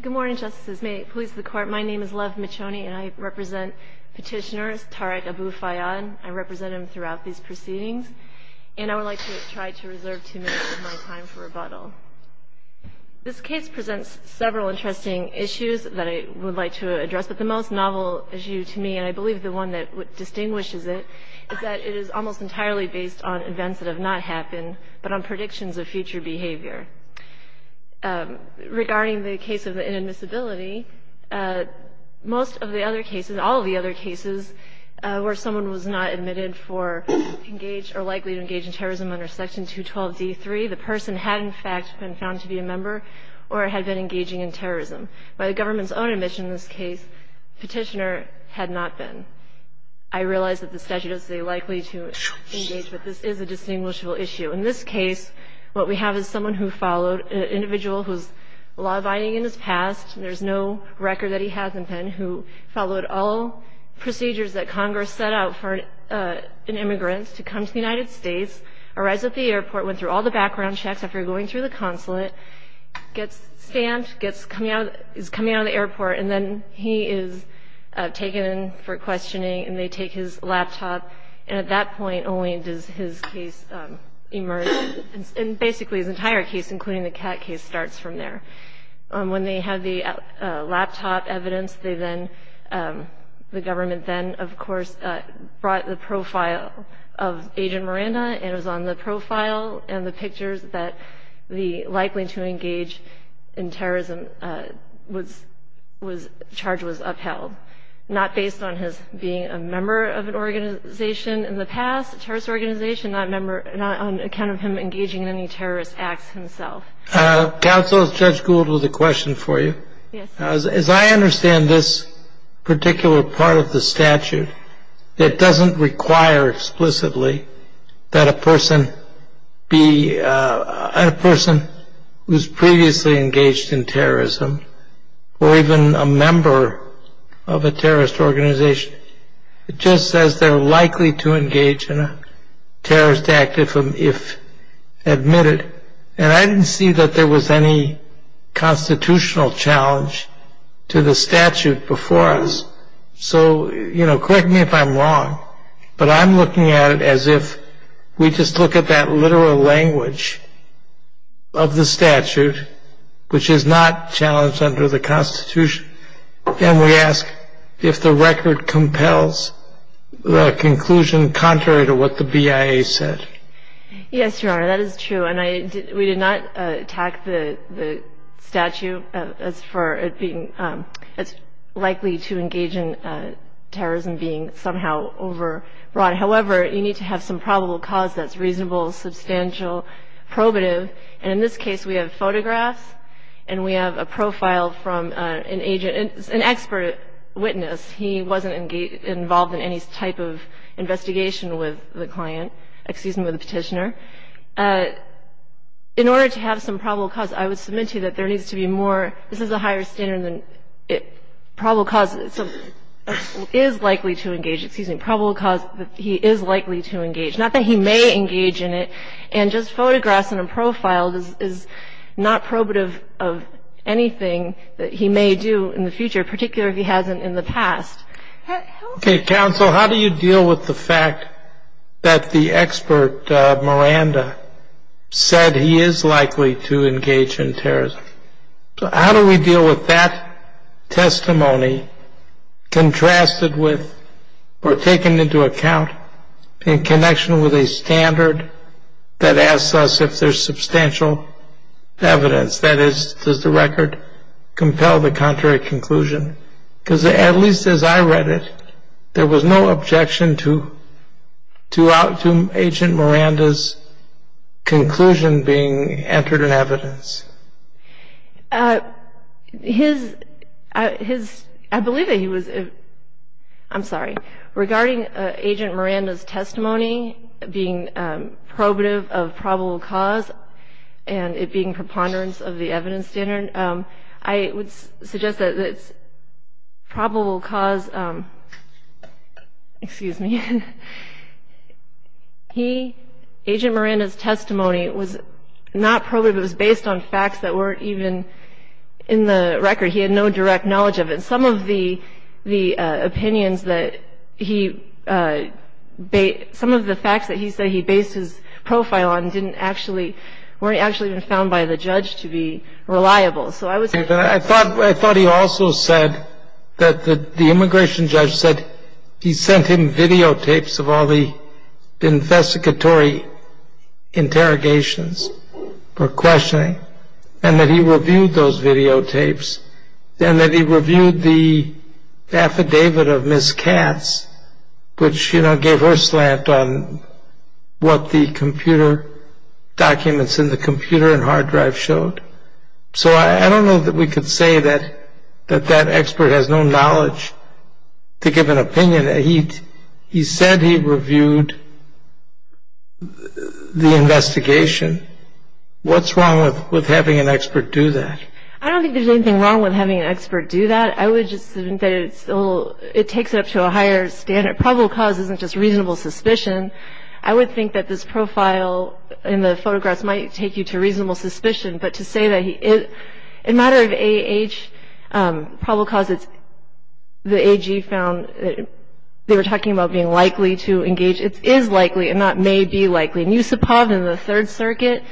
Good morning, Justices. May it please the Court, my name is Lev Michoni, and I represent petitioners, Tareq Abufayad. I represent him throughout these proceedings. And I would like to try to reserve two minutes of my time for rebuttal. This case presents several interesting issues that I would like to address. But the most novel issue to me, and I believe the one that distinguishes it, is that it is almost entirely based on events that have not happened, but on predictions of future behavior. Regarding the case of inadmissibility, most of the other cases, all of the other cases, where someone was not admitted for engaged or likely to engage in terrorism under Section 212d3, the person had, in fact, been found to be a member or had been engaging in terrorism. By the government's own admission in this case, petitioner had not been. I realize that the statute is likely to engage, but this is a distinguishable issue. In this case, what we have is someone an individual who's law-abiding in his past. There's no record that he hasn't been, who followed all procedures that Congress set out for an immigrant to come to the United States, arrives at the airport, went through all the background checks after going through the consulate, gets stamped, is coming out of the airport, and then he is taken in for questioning, and they take his laptop. And at that point, only does his case emerge. And basically, his entire case, including the cat case, starts from there. When they have the laptop evidence, they then, the government then, of course, brought the profile of Agent Miranda, and it was on the profile and the pictures that the likely to engage in terrorism charge was upheld, not based on his being a member of an organization in the past, a terrorist organization, on account of him engaging in any terrorist acts himself. Counsel, Judge Gould has a question for you. Yes. As I understand this particular part of the statute, it doesn't require explicitly that a person be, a person who's previously engaged in terrorism, or even a member of a terrorist organization, it just says they're likely to engage in a terrorist act if admitted. And I didn't see that there was any constitutional challenge to the statute before us. So, correct me if I'm wrong, but I'm looking at it as if we just look at that literal language of the statute, which is not challenged under the Constitution, then we ask if the record compels the conclusion contrary to what the BIA said. Yes, Your Honor, that is true. And we did not attack the statute as for it being as likely to engage in terrorism being somehow overrun. However, you need to have some probable cause that's reasonable, substantial, probative. And in this case, we have photographs, and we have a profile from an agent, an expert witness. He wasn't involved in any type of investigation with the client, excuse me, with the petitioner. In order to have some probable cause, I would submit to you that there needs to be more, this is a higher standard than it, probable cause is likely to engage, excuse me, probable cause that he is likely to engage, not that he may engage in it. And just photographs and a profile is not probative of anything that he may do in the future, particularly if he hasn't in the past. Okay, counsel, how do you deal with the fact that the expert, Miranda, said he is likely to engage in terrorism? So how do we deal with that testimony contrasted with or taken into account in connection with a standard that asks us if there's substantial evidence? That is, does the record compel the contrary conclusion? Because at least as I read it, there was no objection to Agent Miranda's conclusion being entered in evidence. I believe that he was, I'm sorry, regarding Agent Miranda's testimony being probative of probable cause and it being preponderance of the evidence standard, I would suggest that it's probable cause, excuse me, he, Agent Miranda's testimony was not probative, it was based on facts that weren't even in the record, he had no direct knowledge of it. Some of the opinions that he, some of the facts that he said he based his profile on didn't actually, weren't actually even found by the judge to be reliable, so I would say that. I thought he also said that the immigration judge said he sent him videotapes of all the investigatory interrogations for questioning and that he reviewed those videotapes and that he reviewed the affidavit of Ms. Katz, which gave her slant on what the computer documents in the computer and hard drive showed. So I don't know that we could say that that expert has no knowledge to give an opinion. He said he reviewed the investigation. What's wrong with having an expert do that? I don't think there's anything wrong with having an expert do that. I would just think that it's a little, it takes it up to a higher standard. Probable cause isn't just reasonable suspicion. I would think that this profile in the photographs might take you to reasonable suspicion, but to say that in matter of AH, probable cause, it's the AG found, they were talking about being likely to engage, it is likely and that may be likely. And Yusupov in the Third Circuit,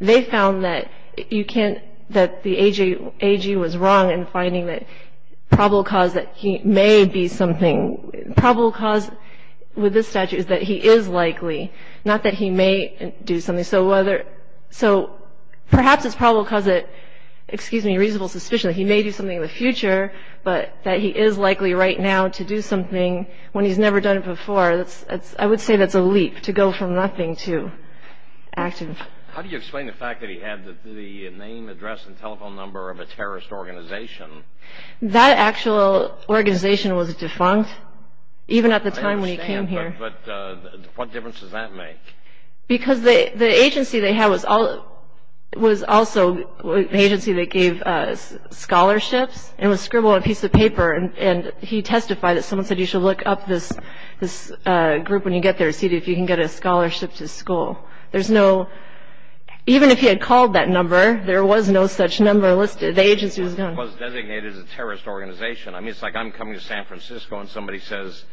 they found that you can't, that the AG was wrong in finding that probable cause that he may be something, probable cause with this statute is that he is likely, not that he may do something. So perhaps it's probable cause that, excuse me, reasonable suspicion that he may do something in the future, but that he is likely right now to do something when he's never done it before. I would say that's a leap to go from nothing to active. How do you explain the fact that he had the name, address and telephone number of a terrorist organization? That actual organization was defunct, even at the time when he came here. But what difference does that make? Because the agency they had was also an agency that gave us scholarships and was scribbled on a piece of paper. And he testified that someone said, you should look up this group when you get there, and see if you can get a scholarship to school. There's no, even if he had called that number, there was no such number listed. The agency was gone. It was designated as a terrorist organization. I mean, it's like I'm coming to San Francisco and somebody says,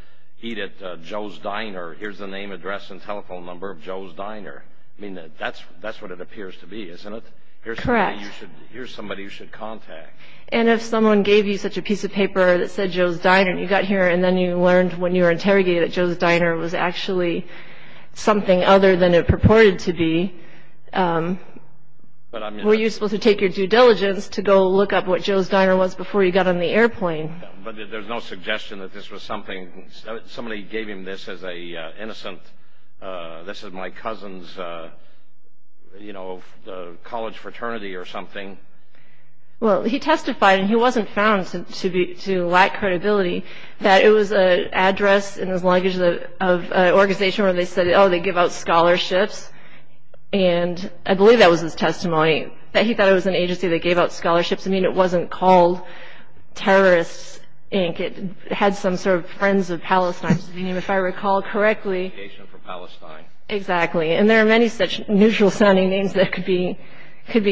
eat at Joe's Diner. Here's the name, address and telephone number of Joe's Diner. I mean, that's what it appears to be, isn't it? Here's somebody you should contact. And if someone gave you such a piece of paper that said Joe's Diner and you got here and then you learned when you were interrogated that Joe's Diner was actually something other than it purported to be, were you supposed to take your due diligence to go look up what Joe's Diner was before you got on the airplane? But there's no suggestion that this was something, somebody gave him this as a innocent, this is my cousin's college fraternity or something. Well, he testified and he wasn't found to lack credibility that it was an address in his luggage of an organization where they said, oh, they give out scholarships. And I believe that was his testimony that he thought it was an agency that gave out scholarships. I mean, it wasn't called Terrorists, Inc. It had some sort of Friends of Palestine. I mean, if I recall correctly. Association for Palestine. Exactly. And there are many such neutral sounding names that could be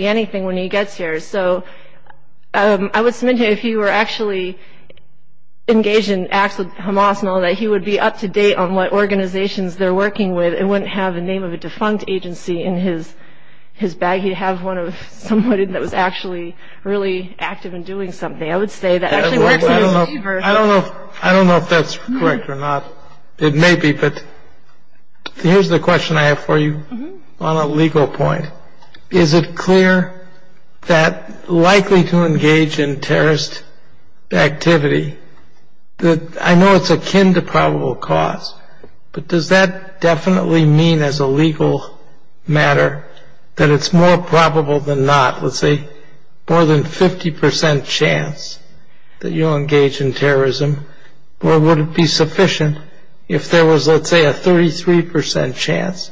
anything when he gets here. So I would submit to you if you were actually engaged in acts of homosexuality that he would be up to date on what organizations they're working with and wouldn't have the name of a defunct agency in his bag. He'd have one of someone that was actually really active in doing something. I would say that actually works for a believer. I don't know if that's correct or not. It may be, but here's the question I have for you on a legal point. Is it clear that likely to engage in terrorist activity, I know it's akin to probable cause, but does that definitely mean as a legal matter that it's more probable than not, let's say, more than 50% chance that you'll engage in terrorism? Or would it be sufficient if there was, let's say, a 33% chance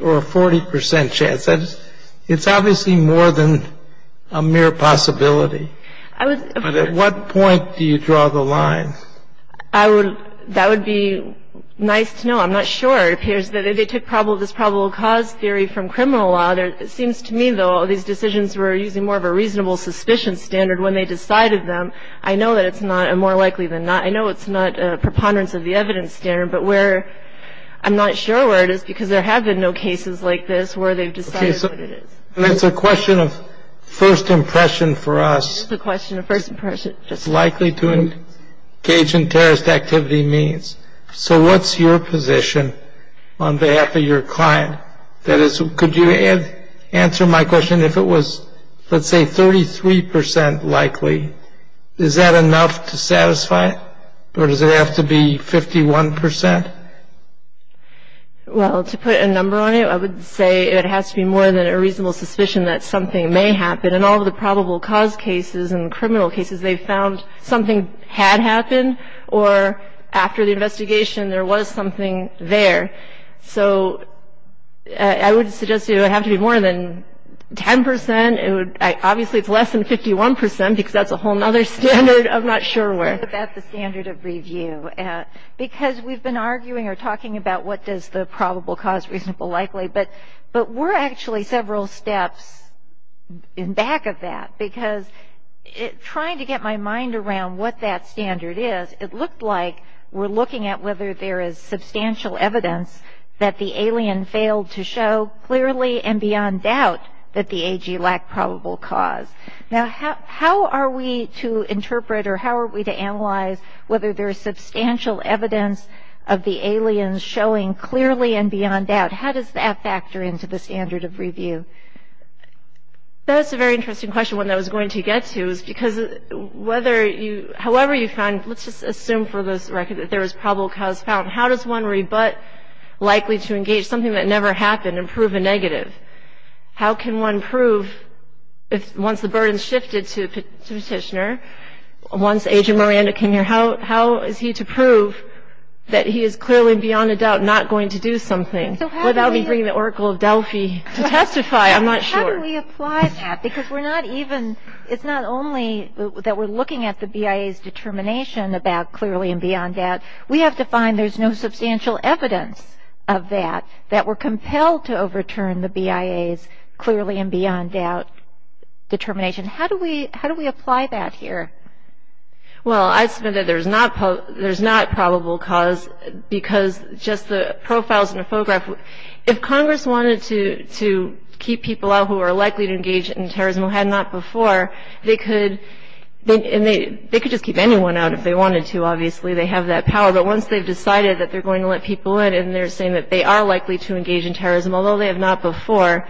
or a 40% chance? It's obviously more than a mere possibility. But at what point do you draw the line? That would be nice to know. I'm not sure. It appears that if they took this probable cause theory from criminal law, it seems to me, though, these decisions were using more of a reasonable suspicion standard when they decided them. I know that it's not more likely than not. I know it's not a preponderance of the evidence standard. But I'm not sure where it is, because there have been no cases like this where they've decided what it is. And it's a question of first impression for us. It's a question of first impression. It's likely to engage in terrorist activity means. So what's your position on behalf of your client? That is, could you answer my question? If it was, let's say, 33% likely, is that enough to satisfy it? Or does it have to be 51%? Well, to put a number on it, I would say it has to be more than a reasonable suspicion that something may happen. In all of the probable cause cases and criminal cases, they found something had happened. Or after the investigation, there was something there. So I would suggest it would have to be more than 10%. It would, obviously, it's less than 51%, because that's a whole other standard. I'm not sure where. What about the standard of review? Because we've been arguing or talking about what does the probable cause reasonable likely. But we're actually several steps in back of that. Because trying to get my mind around what that standard is, it looked like we're looking at whether there is substantial evidence that the alien failed to show clearly and beyond doubt that the AG lacked probable cause. Now, how are we to interpret or how do there is substantial evidence of the aliens showing clearly and beyond doubt? How does that factor into the standard of review? That's a very interesting question, one that I was going to get to, is because however you find, let's just assume for this record that there was probable cause found. How does one rebut likely to engage something that never happened and prove a negative? How can one prove, once the burden's shifted to a petitioner, once Agent Miranda came here, how is he to prove that he is clearly and beyond a doubt not going to do something without me bringing the Oracle of Delphi to testify? I'm not sure. How do we apply that? Because we're not even, it's not only that we're looking at the BIA's determination about clearly and beyond doubt, we have to find there's no substantial evidence of that, that we're compelled to overturn the BIA's clearly and beyond doubt determination. How do we apply that here? Well, I'd say that there's not probable cause because just the profiles in the photograph, if Congress wanted to keep people out who are likely to engage in terrorism who had not before, they could just keep anyone out if they wanted to, obviously. They have that power. But once they've decided that they're going to let people in and they're saying that they are likely to engage in terrorism, although they have not before,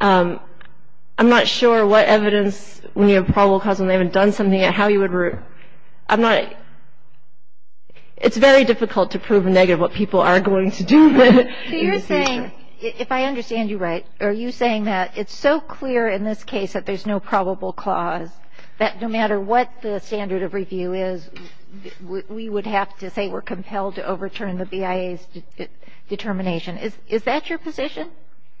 I'm not sure what evidence we have probable cause when they haven't done something and how you would, I'm not, it's very difficult to prove negative what people are going to do. So you're saying, if I understand you right, are you saying that it's so clear in this case that there's no probable cause that no matter what the standard of review is, we would have to say we're compelled to overturn the BIA's determination. Is that your position?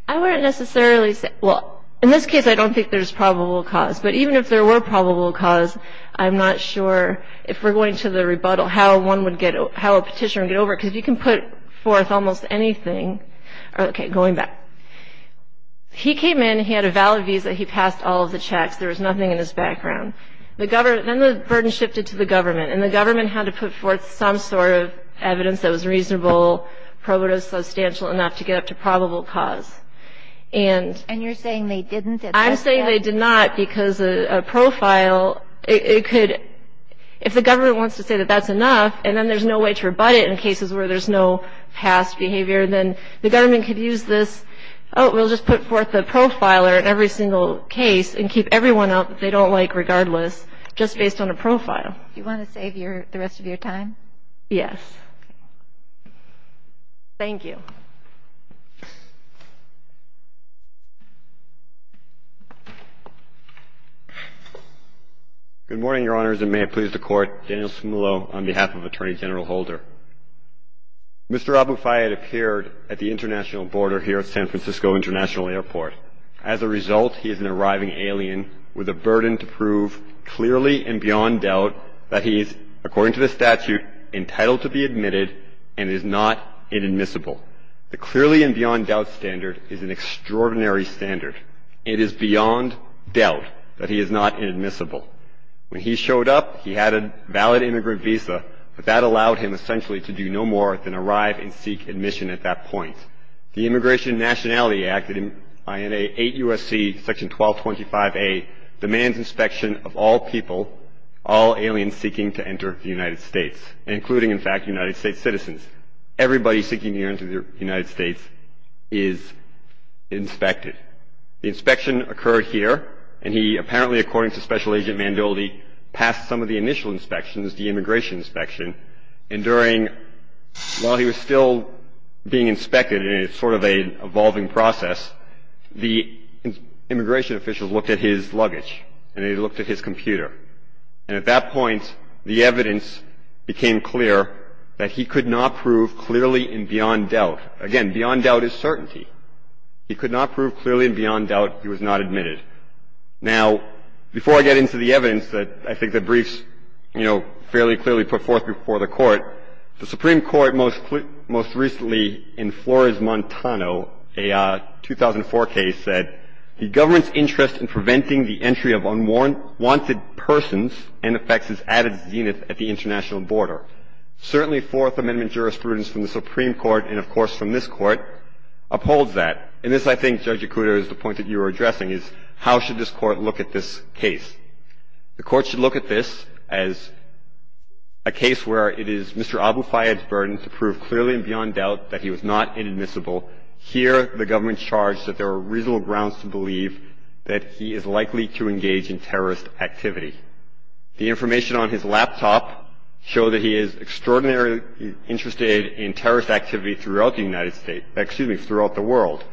I wouldn't necessarily say, well, in this case, I don't think there's probable cause. But even if there were probable cause, I'm not sure, if we're going to the rebuttal, how a petitioner would get over it. Because if you can put forth almost anything, OK, going back. He came in, he had a valid visa, he passed all of the checks. There was nothing in his background. Then the burden shifted to the government. And the government had to put forth some sort of evidence that was reasonable, probative, substantial enough to get up to probable cause. And you're saying they didn't? I'm saying they did not. Because a profile, it could, if the government wants to say that that's enough, and then there's no way to rebut it in cases where there's no past behavior, then the government could use this, oh, we'll just put forth the profiler in every single case and keep everyone out that they don't like regardless, just based on a profile. You want to save the rest of your time? Yes. Thank you. Good morning, Your Honors, and may it please the Court. Daniel Sumillo on behalf of Attorney General Holder. Mr. Aboufayed appeared at the international border here at San Francisco International Airport. As a result, he is an arriving alien with a burden to prove clearly and beyond doubt that he is, according to the statute, entitled to be admitted and is not inadmissible. The clearly and beyond doubt standard is an extraordinary standard. It is beyond doubt that he is not inadmissible. When he showed up, he had a valid immigrant visa, but that allowed him essentially to do no more than arrive and seek admission at that point. The Immigration and Nationality Act, INA 8 U.S.C. Section 1225A, demands inspection of all people, all aliens seeking to enter the United States, including, in fact, United States citizens. Everybody seeking to enter the United States is inspected. The inspection occurred here, and he apparently, according to Special Agent Manvilde, passed some of the initial inspections, the immigration inspection. And during, while he was still being inspected, and it's sort of an evolving process, the immigration officials looked at his luggage, and they looked at his computer. And at that point, the evidence became clear that he could not prove clearly and beyond doubt. Again, beyond doubt is certainty. He could not prove clearly and beyond doubt he was not admitted. Now, before I get into the evidence that I think the briefs, you know, fairly clearly put forth before the Court, the Supreme Court most recently, in Flores-Montano, a 2004 case, said, the government's interest in preventing the entry of unwanted persons and affects his added zenith at the international border. Certainly, Fourth Amendment jurisprudence from the Supreme Court, and of course, from this Court, upholds that. And this, I think, Judge Yakuta, is the point that you were addressing, is how should this Court look at this case? The Court should look at this as a case where it is Mr. Aboufayed's burden to prove clearly and beyond doubt that he was not inadmissible. Here, the government charged that there were reasonable grounds to believe that he is likely to engage in terrorist activity. The information on his laptop show that he is extraordinarily interested in terrorist activity throughout the United States, excuse me, throughout the world,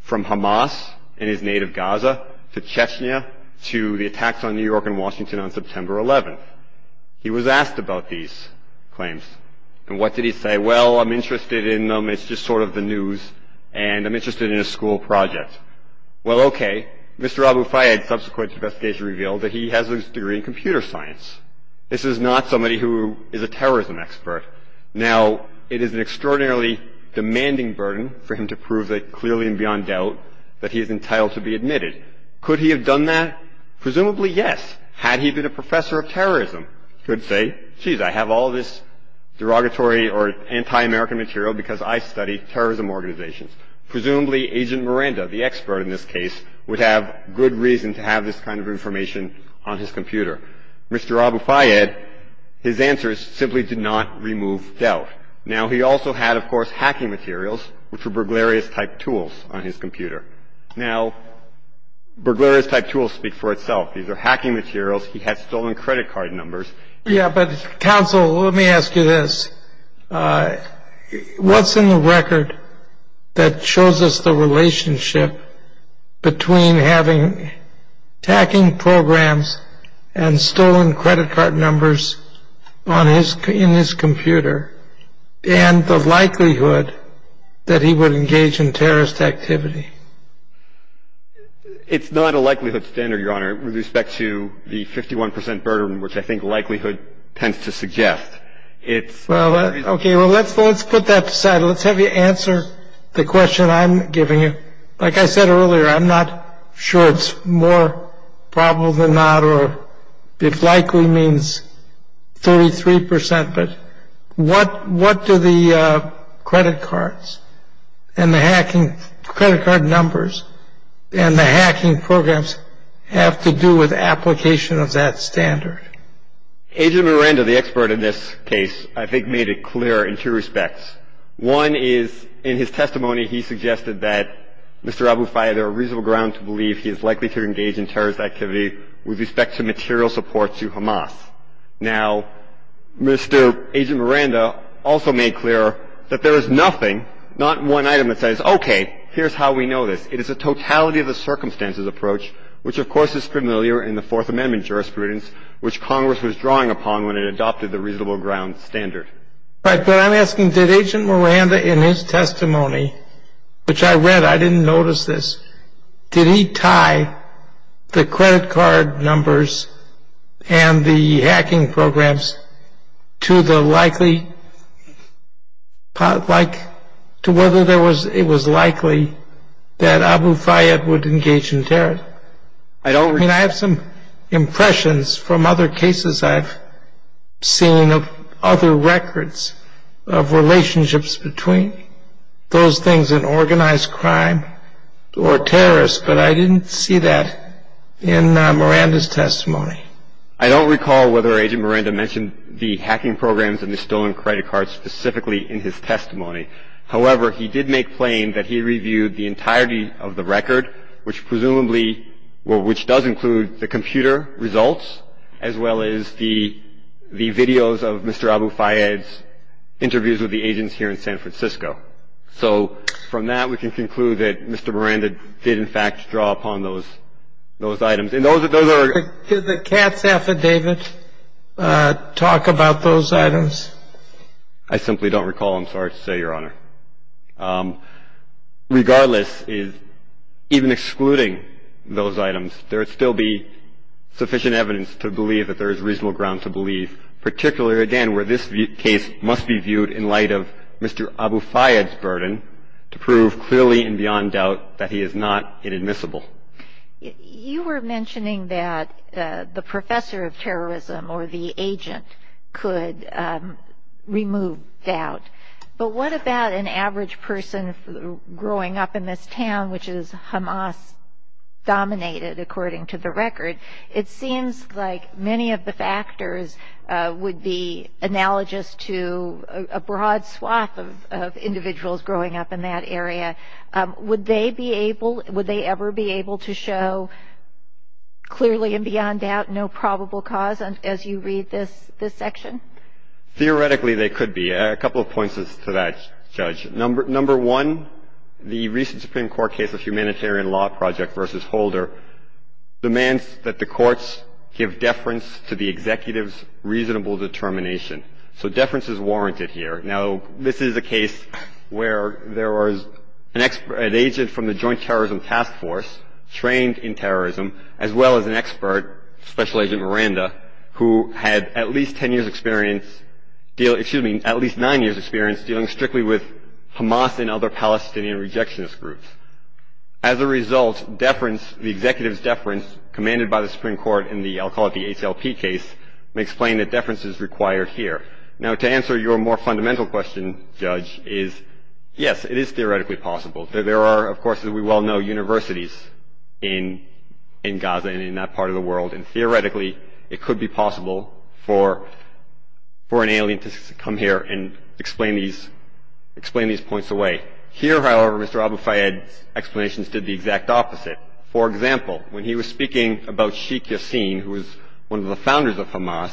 from Hamas in his native Gaza, to Chechnya, to the attacks on New York and Washington on September 11th. He was asked about these claims. And what did he say? Well, I'm interested in them, it's just sort of the news, and I'm interested in a school project. Well, okay. Mr. Aboufayed's subsequent investigation revealed that he has a degree in computer science. This is not somebody who is a terrorism expert. Now, it is an extraordinarily demanding burden for him to prove that clearly and beyond doubt that he is entitled to be admitted. Could he have done that? Presumably, yes. Had he been a professor of terrorism, he could say, geez, I have all this derogatory or anti-American material because I study terrorism organizations. Presumably, Agent Miranda, the expert in this case, would have good reason to have this kind of information on his computer. Mr. Aboufayed, his answers simply did not remove doubt. Now, he also had, of course, hacking materials, which were burglarious-type tools on his computer. Now, burglarious-type tools speak for itself. These are hacking materials. He had stolen credit card numbers. Yeah, but counsel, let me ask you this. What's in the record that shows us the relationship between having hacking programs and stolen credit card numbers in his computer and the likelihood that he would engage in terrorist activity? It's not a likelihood standard, Your Honor, with respect to the 51% burden, which I think likelihood tends to suggest. It's- Well, okay, well, let's put that aside. Let's have you answer the question I'm giving you. Like I said earlier, I'm not sure it's more probable than not, or if likely means 33%, but what do the credit cards and the hacking, credit card numbers and the hacking programs have to do with application of that standard? Agent Miranda, the expert in this case, I think made it clear in two respects. One is, in his testimony, he suggested that, Mr. Aboufaya, there are reasonable grounds to believe he is likely to engage in terrorist activity with respect to material support to Hamas. Now, Mr. Agent Miranda also made clear that there is nothing, not one item that says, okay, here's how we know this. It is a totality of the circumstances approach, which of course is familiar in the Fourth Amendment jurisprudence, which Congress was drawing upon when it adopted the reasonable grounds standard. Right, but I'm asking, did Agent Miranda in his testimony, which I read, I didn't notice this, did he tie the credit card numbers and the hacking programs to the likely, like, to whether it was likely that Aboufaya would engage in terrorism? I mean, I have some impressions from other cases I've seen of other records of relationships between those things in organized crime or terrorists, but I didn't see that in Miranda's testimony. I don't recall whether Agent Miranda mentioned the hacking programs and the stolen credit cards specifically in his testimony. However, he did make plain that he reviewed the entirety of the record, which presumably, well, which does include the computer results as well as the videos of Mr. Aboufaya's interviews with the agents here in San Francisco. So from that, we can conclude that Mr. Miranda did in fact draw upon those items. And those are- Did the Katz affidavit talk about those items? I simply don't recall. I'm sorry to say, Your Honor. Regardless, even excluding those items, there would still be sufficient evidence to believe that there is reasonable ground to believe, particularly, again, where this case must be viewed in light of Mr. Aboufaya's burden to prove clearly and beyond doubt that he is not inadmissible. You were mentioning that the professor of terrorism or the agent could remove doubt, but what about an average person growing up in this town, which is Hamas-dominated, according to the record? It seems like many of the factors would be analogous to a broad swath of individuals growing up in that area. Would they ever be able to show clearly and beyond doubt no probable cause as you read this section? Theoretically, they could be. A couple of points to that, Judge. Number one, the recent Supreme Court case of Humanitarian Law Project versus Holder demands that the courts give deference to the executive's reasonable determination. So deference is warranted here. Now, this is a case where there was an agent from the Joint Terrorism Task Force trained in terrorism as well as an expert, Special Agent Miranda, who had at least 10 years experience, excuse me, at least nine years experience dealing strictly with Hamas and other Palestinian rejectionist groups. As a result, deference, the executive's deference commanded by the Supreme Court in the, I'll call it the ACLP case, may explain that deference is required here. Now, to answer your more fundamental question, Judge, is yes, it is theoretically possible. There are, of course, as we well know, universities in Gaza and in that part of the world, and theoretically, it could be possible for an alien to come here and explain these points away. Here, however, Mr. Abu Fayed's explanations did the exact opposite. For example, when he was speaking about Sheikh Yassin, who was one of the founders of Hamas,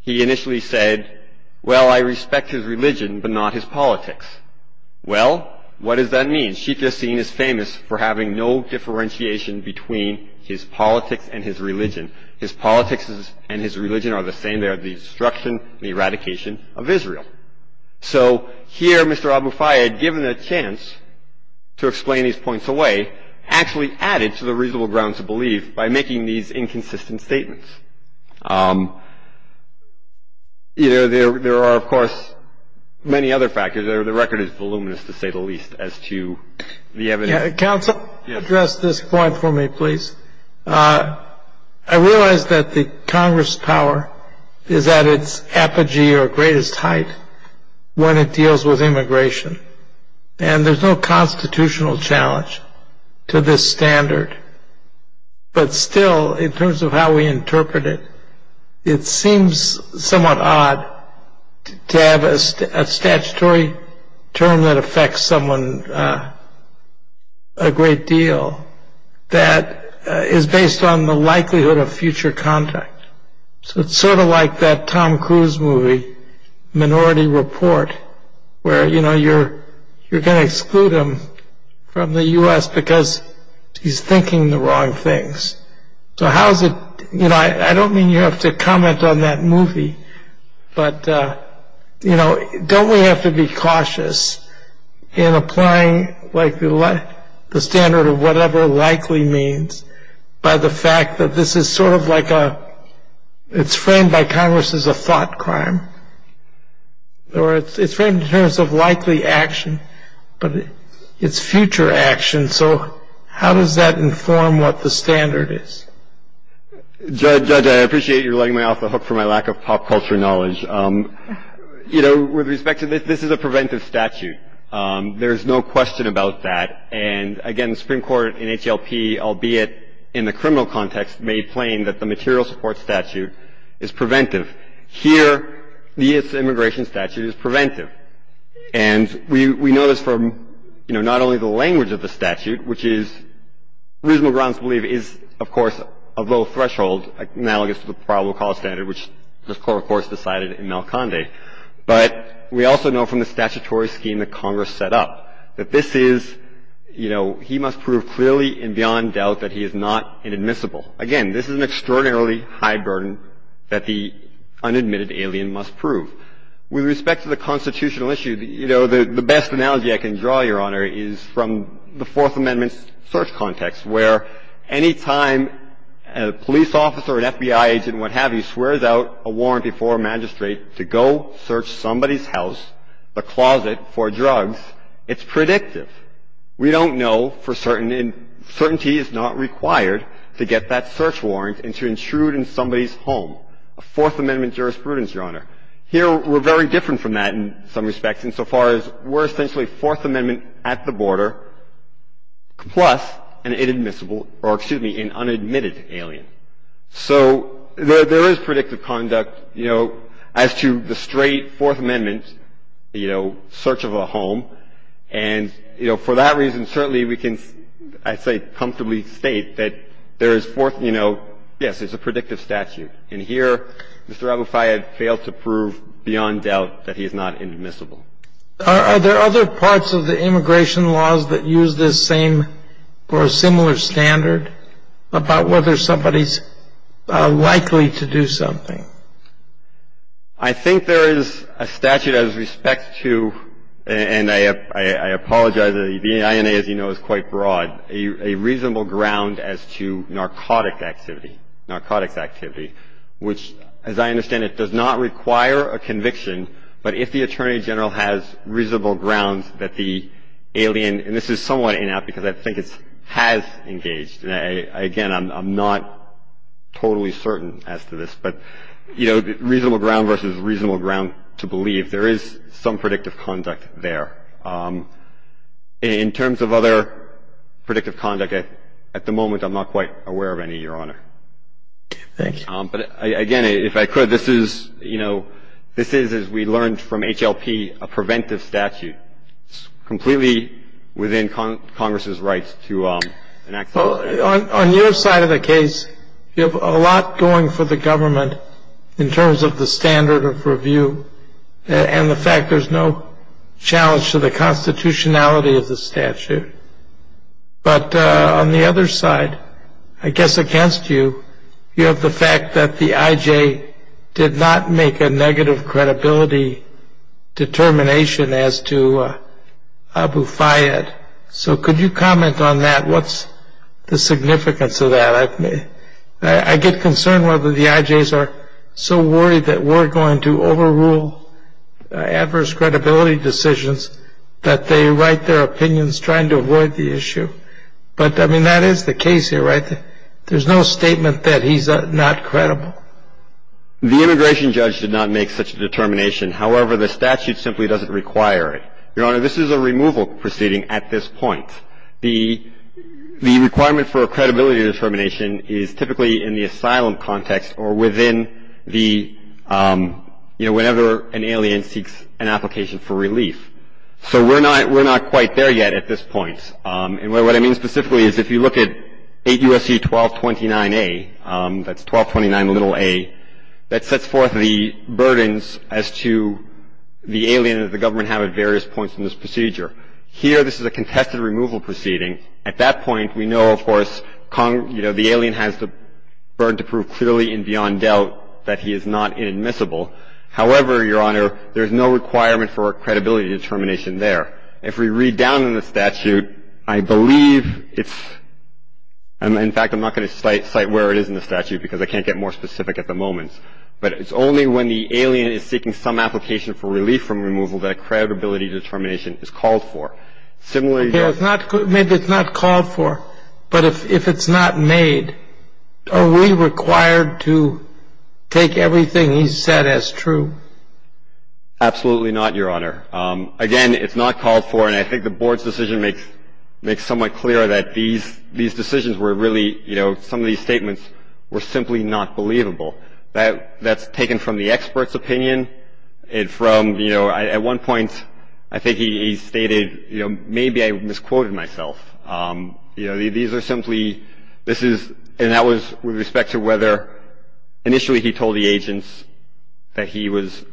he initially said, well, I respect his religion, but not his politics. Well, what does that mean? Sheikh Yassin is famous for having no differentiation between his politics and his religion. His politics and his religion are the same. They are the destruction, the eradication of Israel. So here, Mr. Abu Fayed, given a chance to explain these points away, actually added to the reasonable ground to believe by making these inconsistent statements. You know, there are, of course, many other factors. The record is voluminous, to say the least, as to the evidence. Counsel, address this point for me, please. I realize that the Congress' power is at its apogee or greatest height when it deals with immigration. And there's no constitutional challenge to this standard. But still, in terms of how we interpret it, it seems somewhat odd to have a statutory term that affects someone a great deal that is based on the likelihood of future contact. So it's sort of like that Tom Cruise movie, Minority Report, where, you know, you're gonna exclude him from the US because he's thinking the wrong things. So how's it, you know, I don't mean you have to comment on that movie, but, you know, don't we have to be cautious in applying, like, the standard of whatever likely means by the fact that this is sort of like a, it's framed by Congress as a thought crime. Or it's framed in terms of likely action, but it's future action. So how does that inform what the standard is? Judge, I appreciate you letting me off the hook for my lack of pop culture knowledge. You know, with respect to this, this is a preventive statute. There's no question about that. And again, the Supreme Court in HLP, albeit in the criminal context, made plain that the material support statute is preventive. Here, the immigration statute is preventive. And we know this from, you know, not only the language of the statute, which is reasonable grounds to believe is, of course, a low threshold, analogous to the probable cause standard, which the Court, of course, decided in Malconde. But we also know from the statutory scheme that Congress set up that this is, you know, he must prove clearly and beyond doubt that he is not inadmissible. Again, this is an extraordinarily high burden that the unadmitted alien must prove. With respect to the constitutional issue, you know, the best analogy I can draw, Your Honor, is from the Fourth Amendment's search context, where any time a police officer, an FBI agent, and what have you, swears out a warrant before a magistrate to go search somebody's house, a closet for drugs, it's predictive. We don't know for certain, and certainty is not required to get that search warrant and to intrude in somebody's home, a Fourth Amendment jurisprudence, Your Honor. Here, we're very different from that in some respects, insofar as we're essentially Fourth Amendment at the border plus an inadmissible or, excuse me, an unadmitted alien. So there is predictive conduct, you know, as to the straight Fourth Amendment, you know, search of a home. And, you know, for that reason, certainly we can, I'd say, comfortably state that there is fourth, you know, yes, it's a predictive statute. And here, Mr. Aboufayed failed to prove beyond doubt that he is not inadmissible. Are there other parts of the immigration laws that use this same or a similar standard about whether somebody's likely to do something? I think there is a statute as respect to, and I apologize, the INA, as you know, is quite broad, a reasonable ground as to narcotics activity, which, as I understand it, does not require a conviction. But if the attorney general has reasonable ground that the alien, and this is somewhat inapp, because I think it has engaged, and again, I'm not totally certain as to this. But, you know, reasonable ground versus reasonable ground to believe. There is some predictive conduct there. In terms of other predictive conduct, at the moment, I'm not quite aware of any, Your Honor. Thank you. But again, if I could, this is, you know, this is, as we learned from HLP, a preventive statute. Completely within Congress's rights to enact the law. On your side of the case, you have a lot going for the government in terms of the standard of review and the fact there's no challenge to the constitutionality of the statute. But on the other side, I guess against you, you have the fact that the IJ did not make a negative credibility determination as to Abu Fayyad. So could you comment on that? What's the significance of that? I get concerned whether the IJs are so worried that we're going to overrule adverse credibility decisions that they write their opinions trying to avoid the issue. But I mean, that is the case here, right? There's no statement that he's not credible. The immigration judge did not make such a determination. However, the statute simply doesn't require it. Your Honor, this is a removal proceeding at this point. The requirement for a credibility determination is typically in the asylum context or within the, you know, whenever an alien seeks an application for relief. So we're not quite there yet at this point. And what I mean specifically is if you look at 8 U.S.C. 1229a, that's 1229 little a, that sets forth the burdens as to the alien that the government have at various points in this procedure. Here, this is a contested removal proceeding. At that point, we know, of course, Kong, you know, the alien has the burden to prove clearly and beyond doubt that he is not inadmissible. However, Your Honor, there is no requirement for a credibility determination there. If we read down in the statute, I believe it's, in fact, I'm not going to cite where it is in the statute because I can't get more specific at the moment. But it's only when the alien is seeking some application for relief from removal that a credibility determination is called for. Similarly- Maybe it's not called for, but if it's not made, are we required to take everything he said as true? Absolutely not, Your Honor. Again, it's not called for, and I think the board's decision makes somewhat clear that these decisions were really, you know, some of these statements were simply not believable. That's taken from the expert's opinion, and from, you know, at one point, I think he stated, you know, maybe I misquoted myself. You know, these are simply, this is, and that was with respect to whether, initially he told the agents that he lived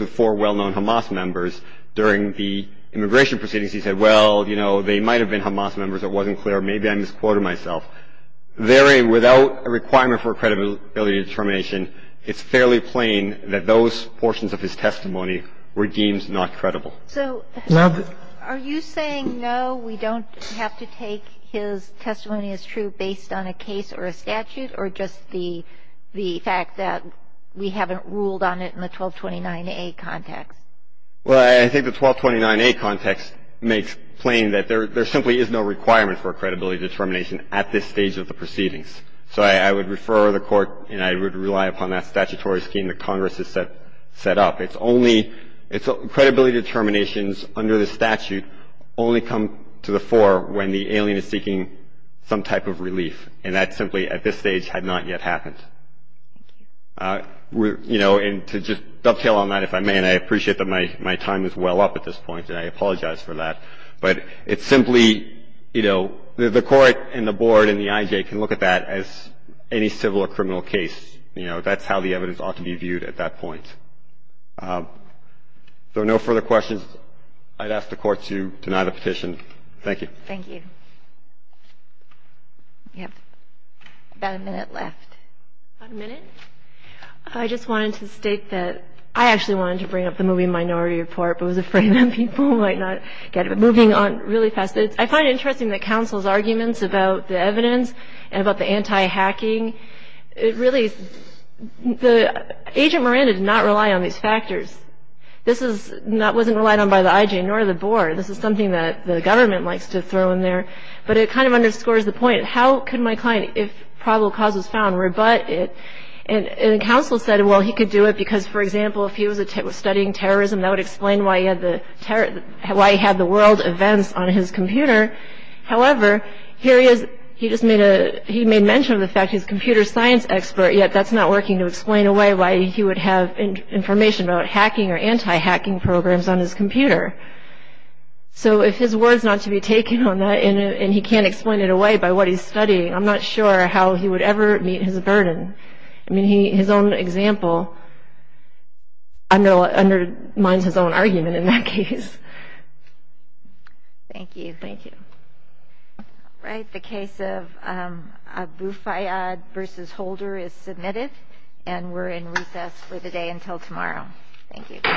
with four well-known Hamas members during the immigration proceedings. He said, well, you know, they might have been Hamas members. It wasn't clear. Maybe I misquoted myself. Therein, without a requirement for credibility determination, it's fairly plain that those portions of his testimony were deemed not credible. So are you saying, no, we don't have to take his testimony as true based on a case or a statute, or just the fact that we haven't ruled on it in the 1229A context? Well, I think the 1229A context makes plain that there simply is no requirement for credibility determination at this stage of the proceedings. So I would refer the court, and I would rely upon that statutory scheme that Congress has set up. It's only, credibility determinations under the statute only come to the fore when the alien is seeking some type of relief. And that simply, at this stage, had not yet happened. You know, and to just dovetail on that, if I may, and I appreciate that my time is well up at this point, and I apologize for that. But it's simply, you know, the court and the board and the IJ can look at that as any civil or criminal case. You know, that's how the evidence ought to be viewed at that point. So no further questions. I'd ask the court to deny the petition. Thank you. Thank you. You have about a minute left. About a minute? I just wanted to state that I actually wanted to bring up the moving minority report, but was afraid that people might not get it. But moving on really fast, I find it interesting that counsel's arguments about the evidence and about the anti-hacking, it really, Agent Miranda did not rely on these factors. This wasn't relied on by the IJ, nor the board. This is something that the government likes to throw in there. But it kind of underscores the point. How could my client, if probable cause was found, rebut it? And counsel said, well, he could do it because, for example, if he was studying terrorism, that would explain why he had the world events on his computer. However, here he is, he just made a, he made mention of the fact he's a computer science expert, yet that's not working to explain away why he would have information about hacking or anti-hacking programs on his computer. So if his word's not to be taken on that, and he can't explain it away by what he's studying, I'm not sure how he would ever meet his burden. I mean, his own example undermines his own argument in that case. Thank you. Thank you. All right, the case of Aboufayad versus Holder is submitted. And we're in recess for the day until tomorrow. Thank you. All rise.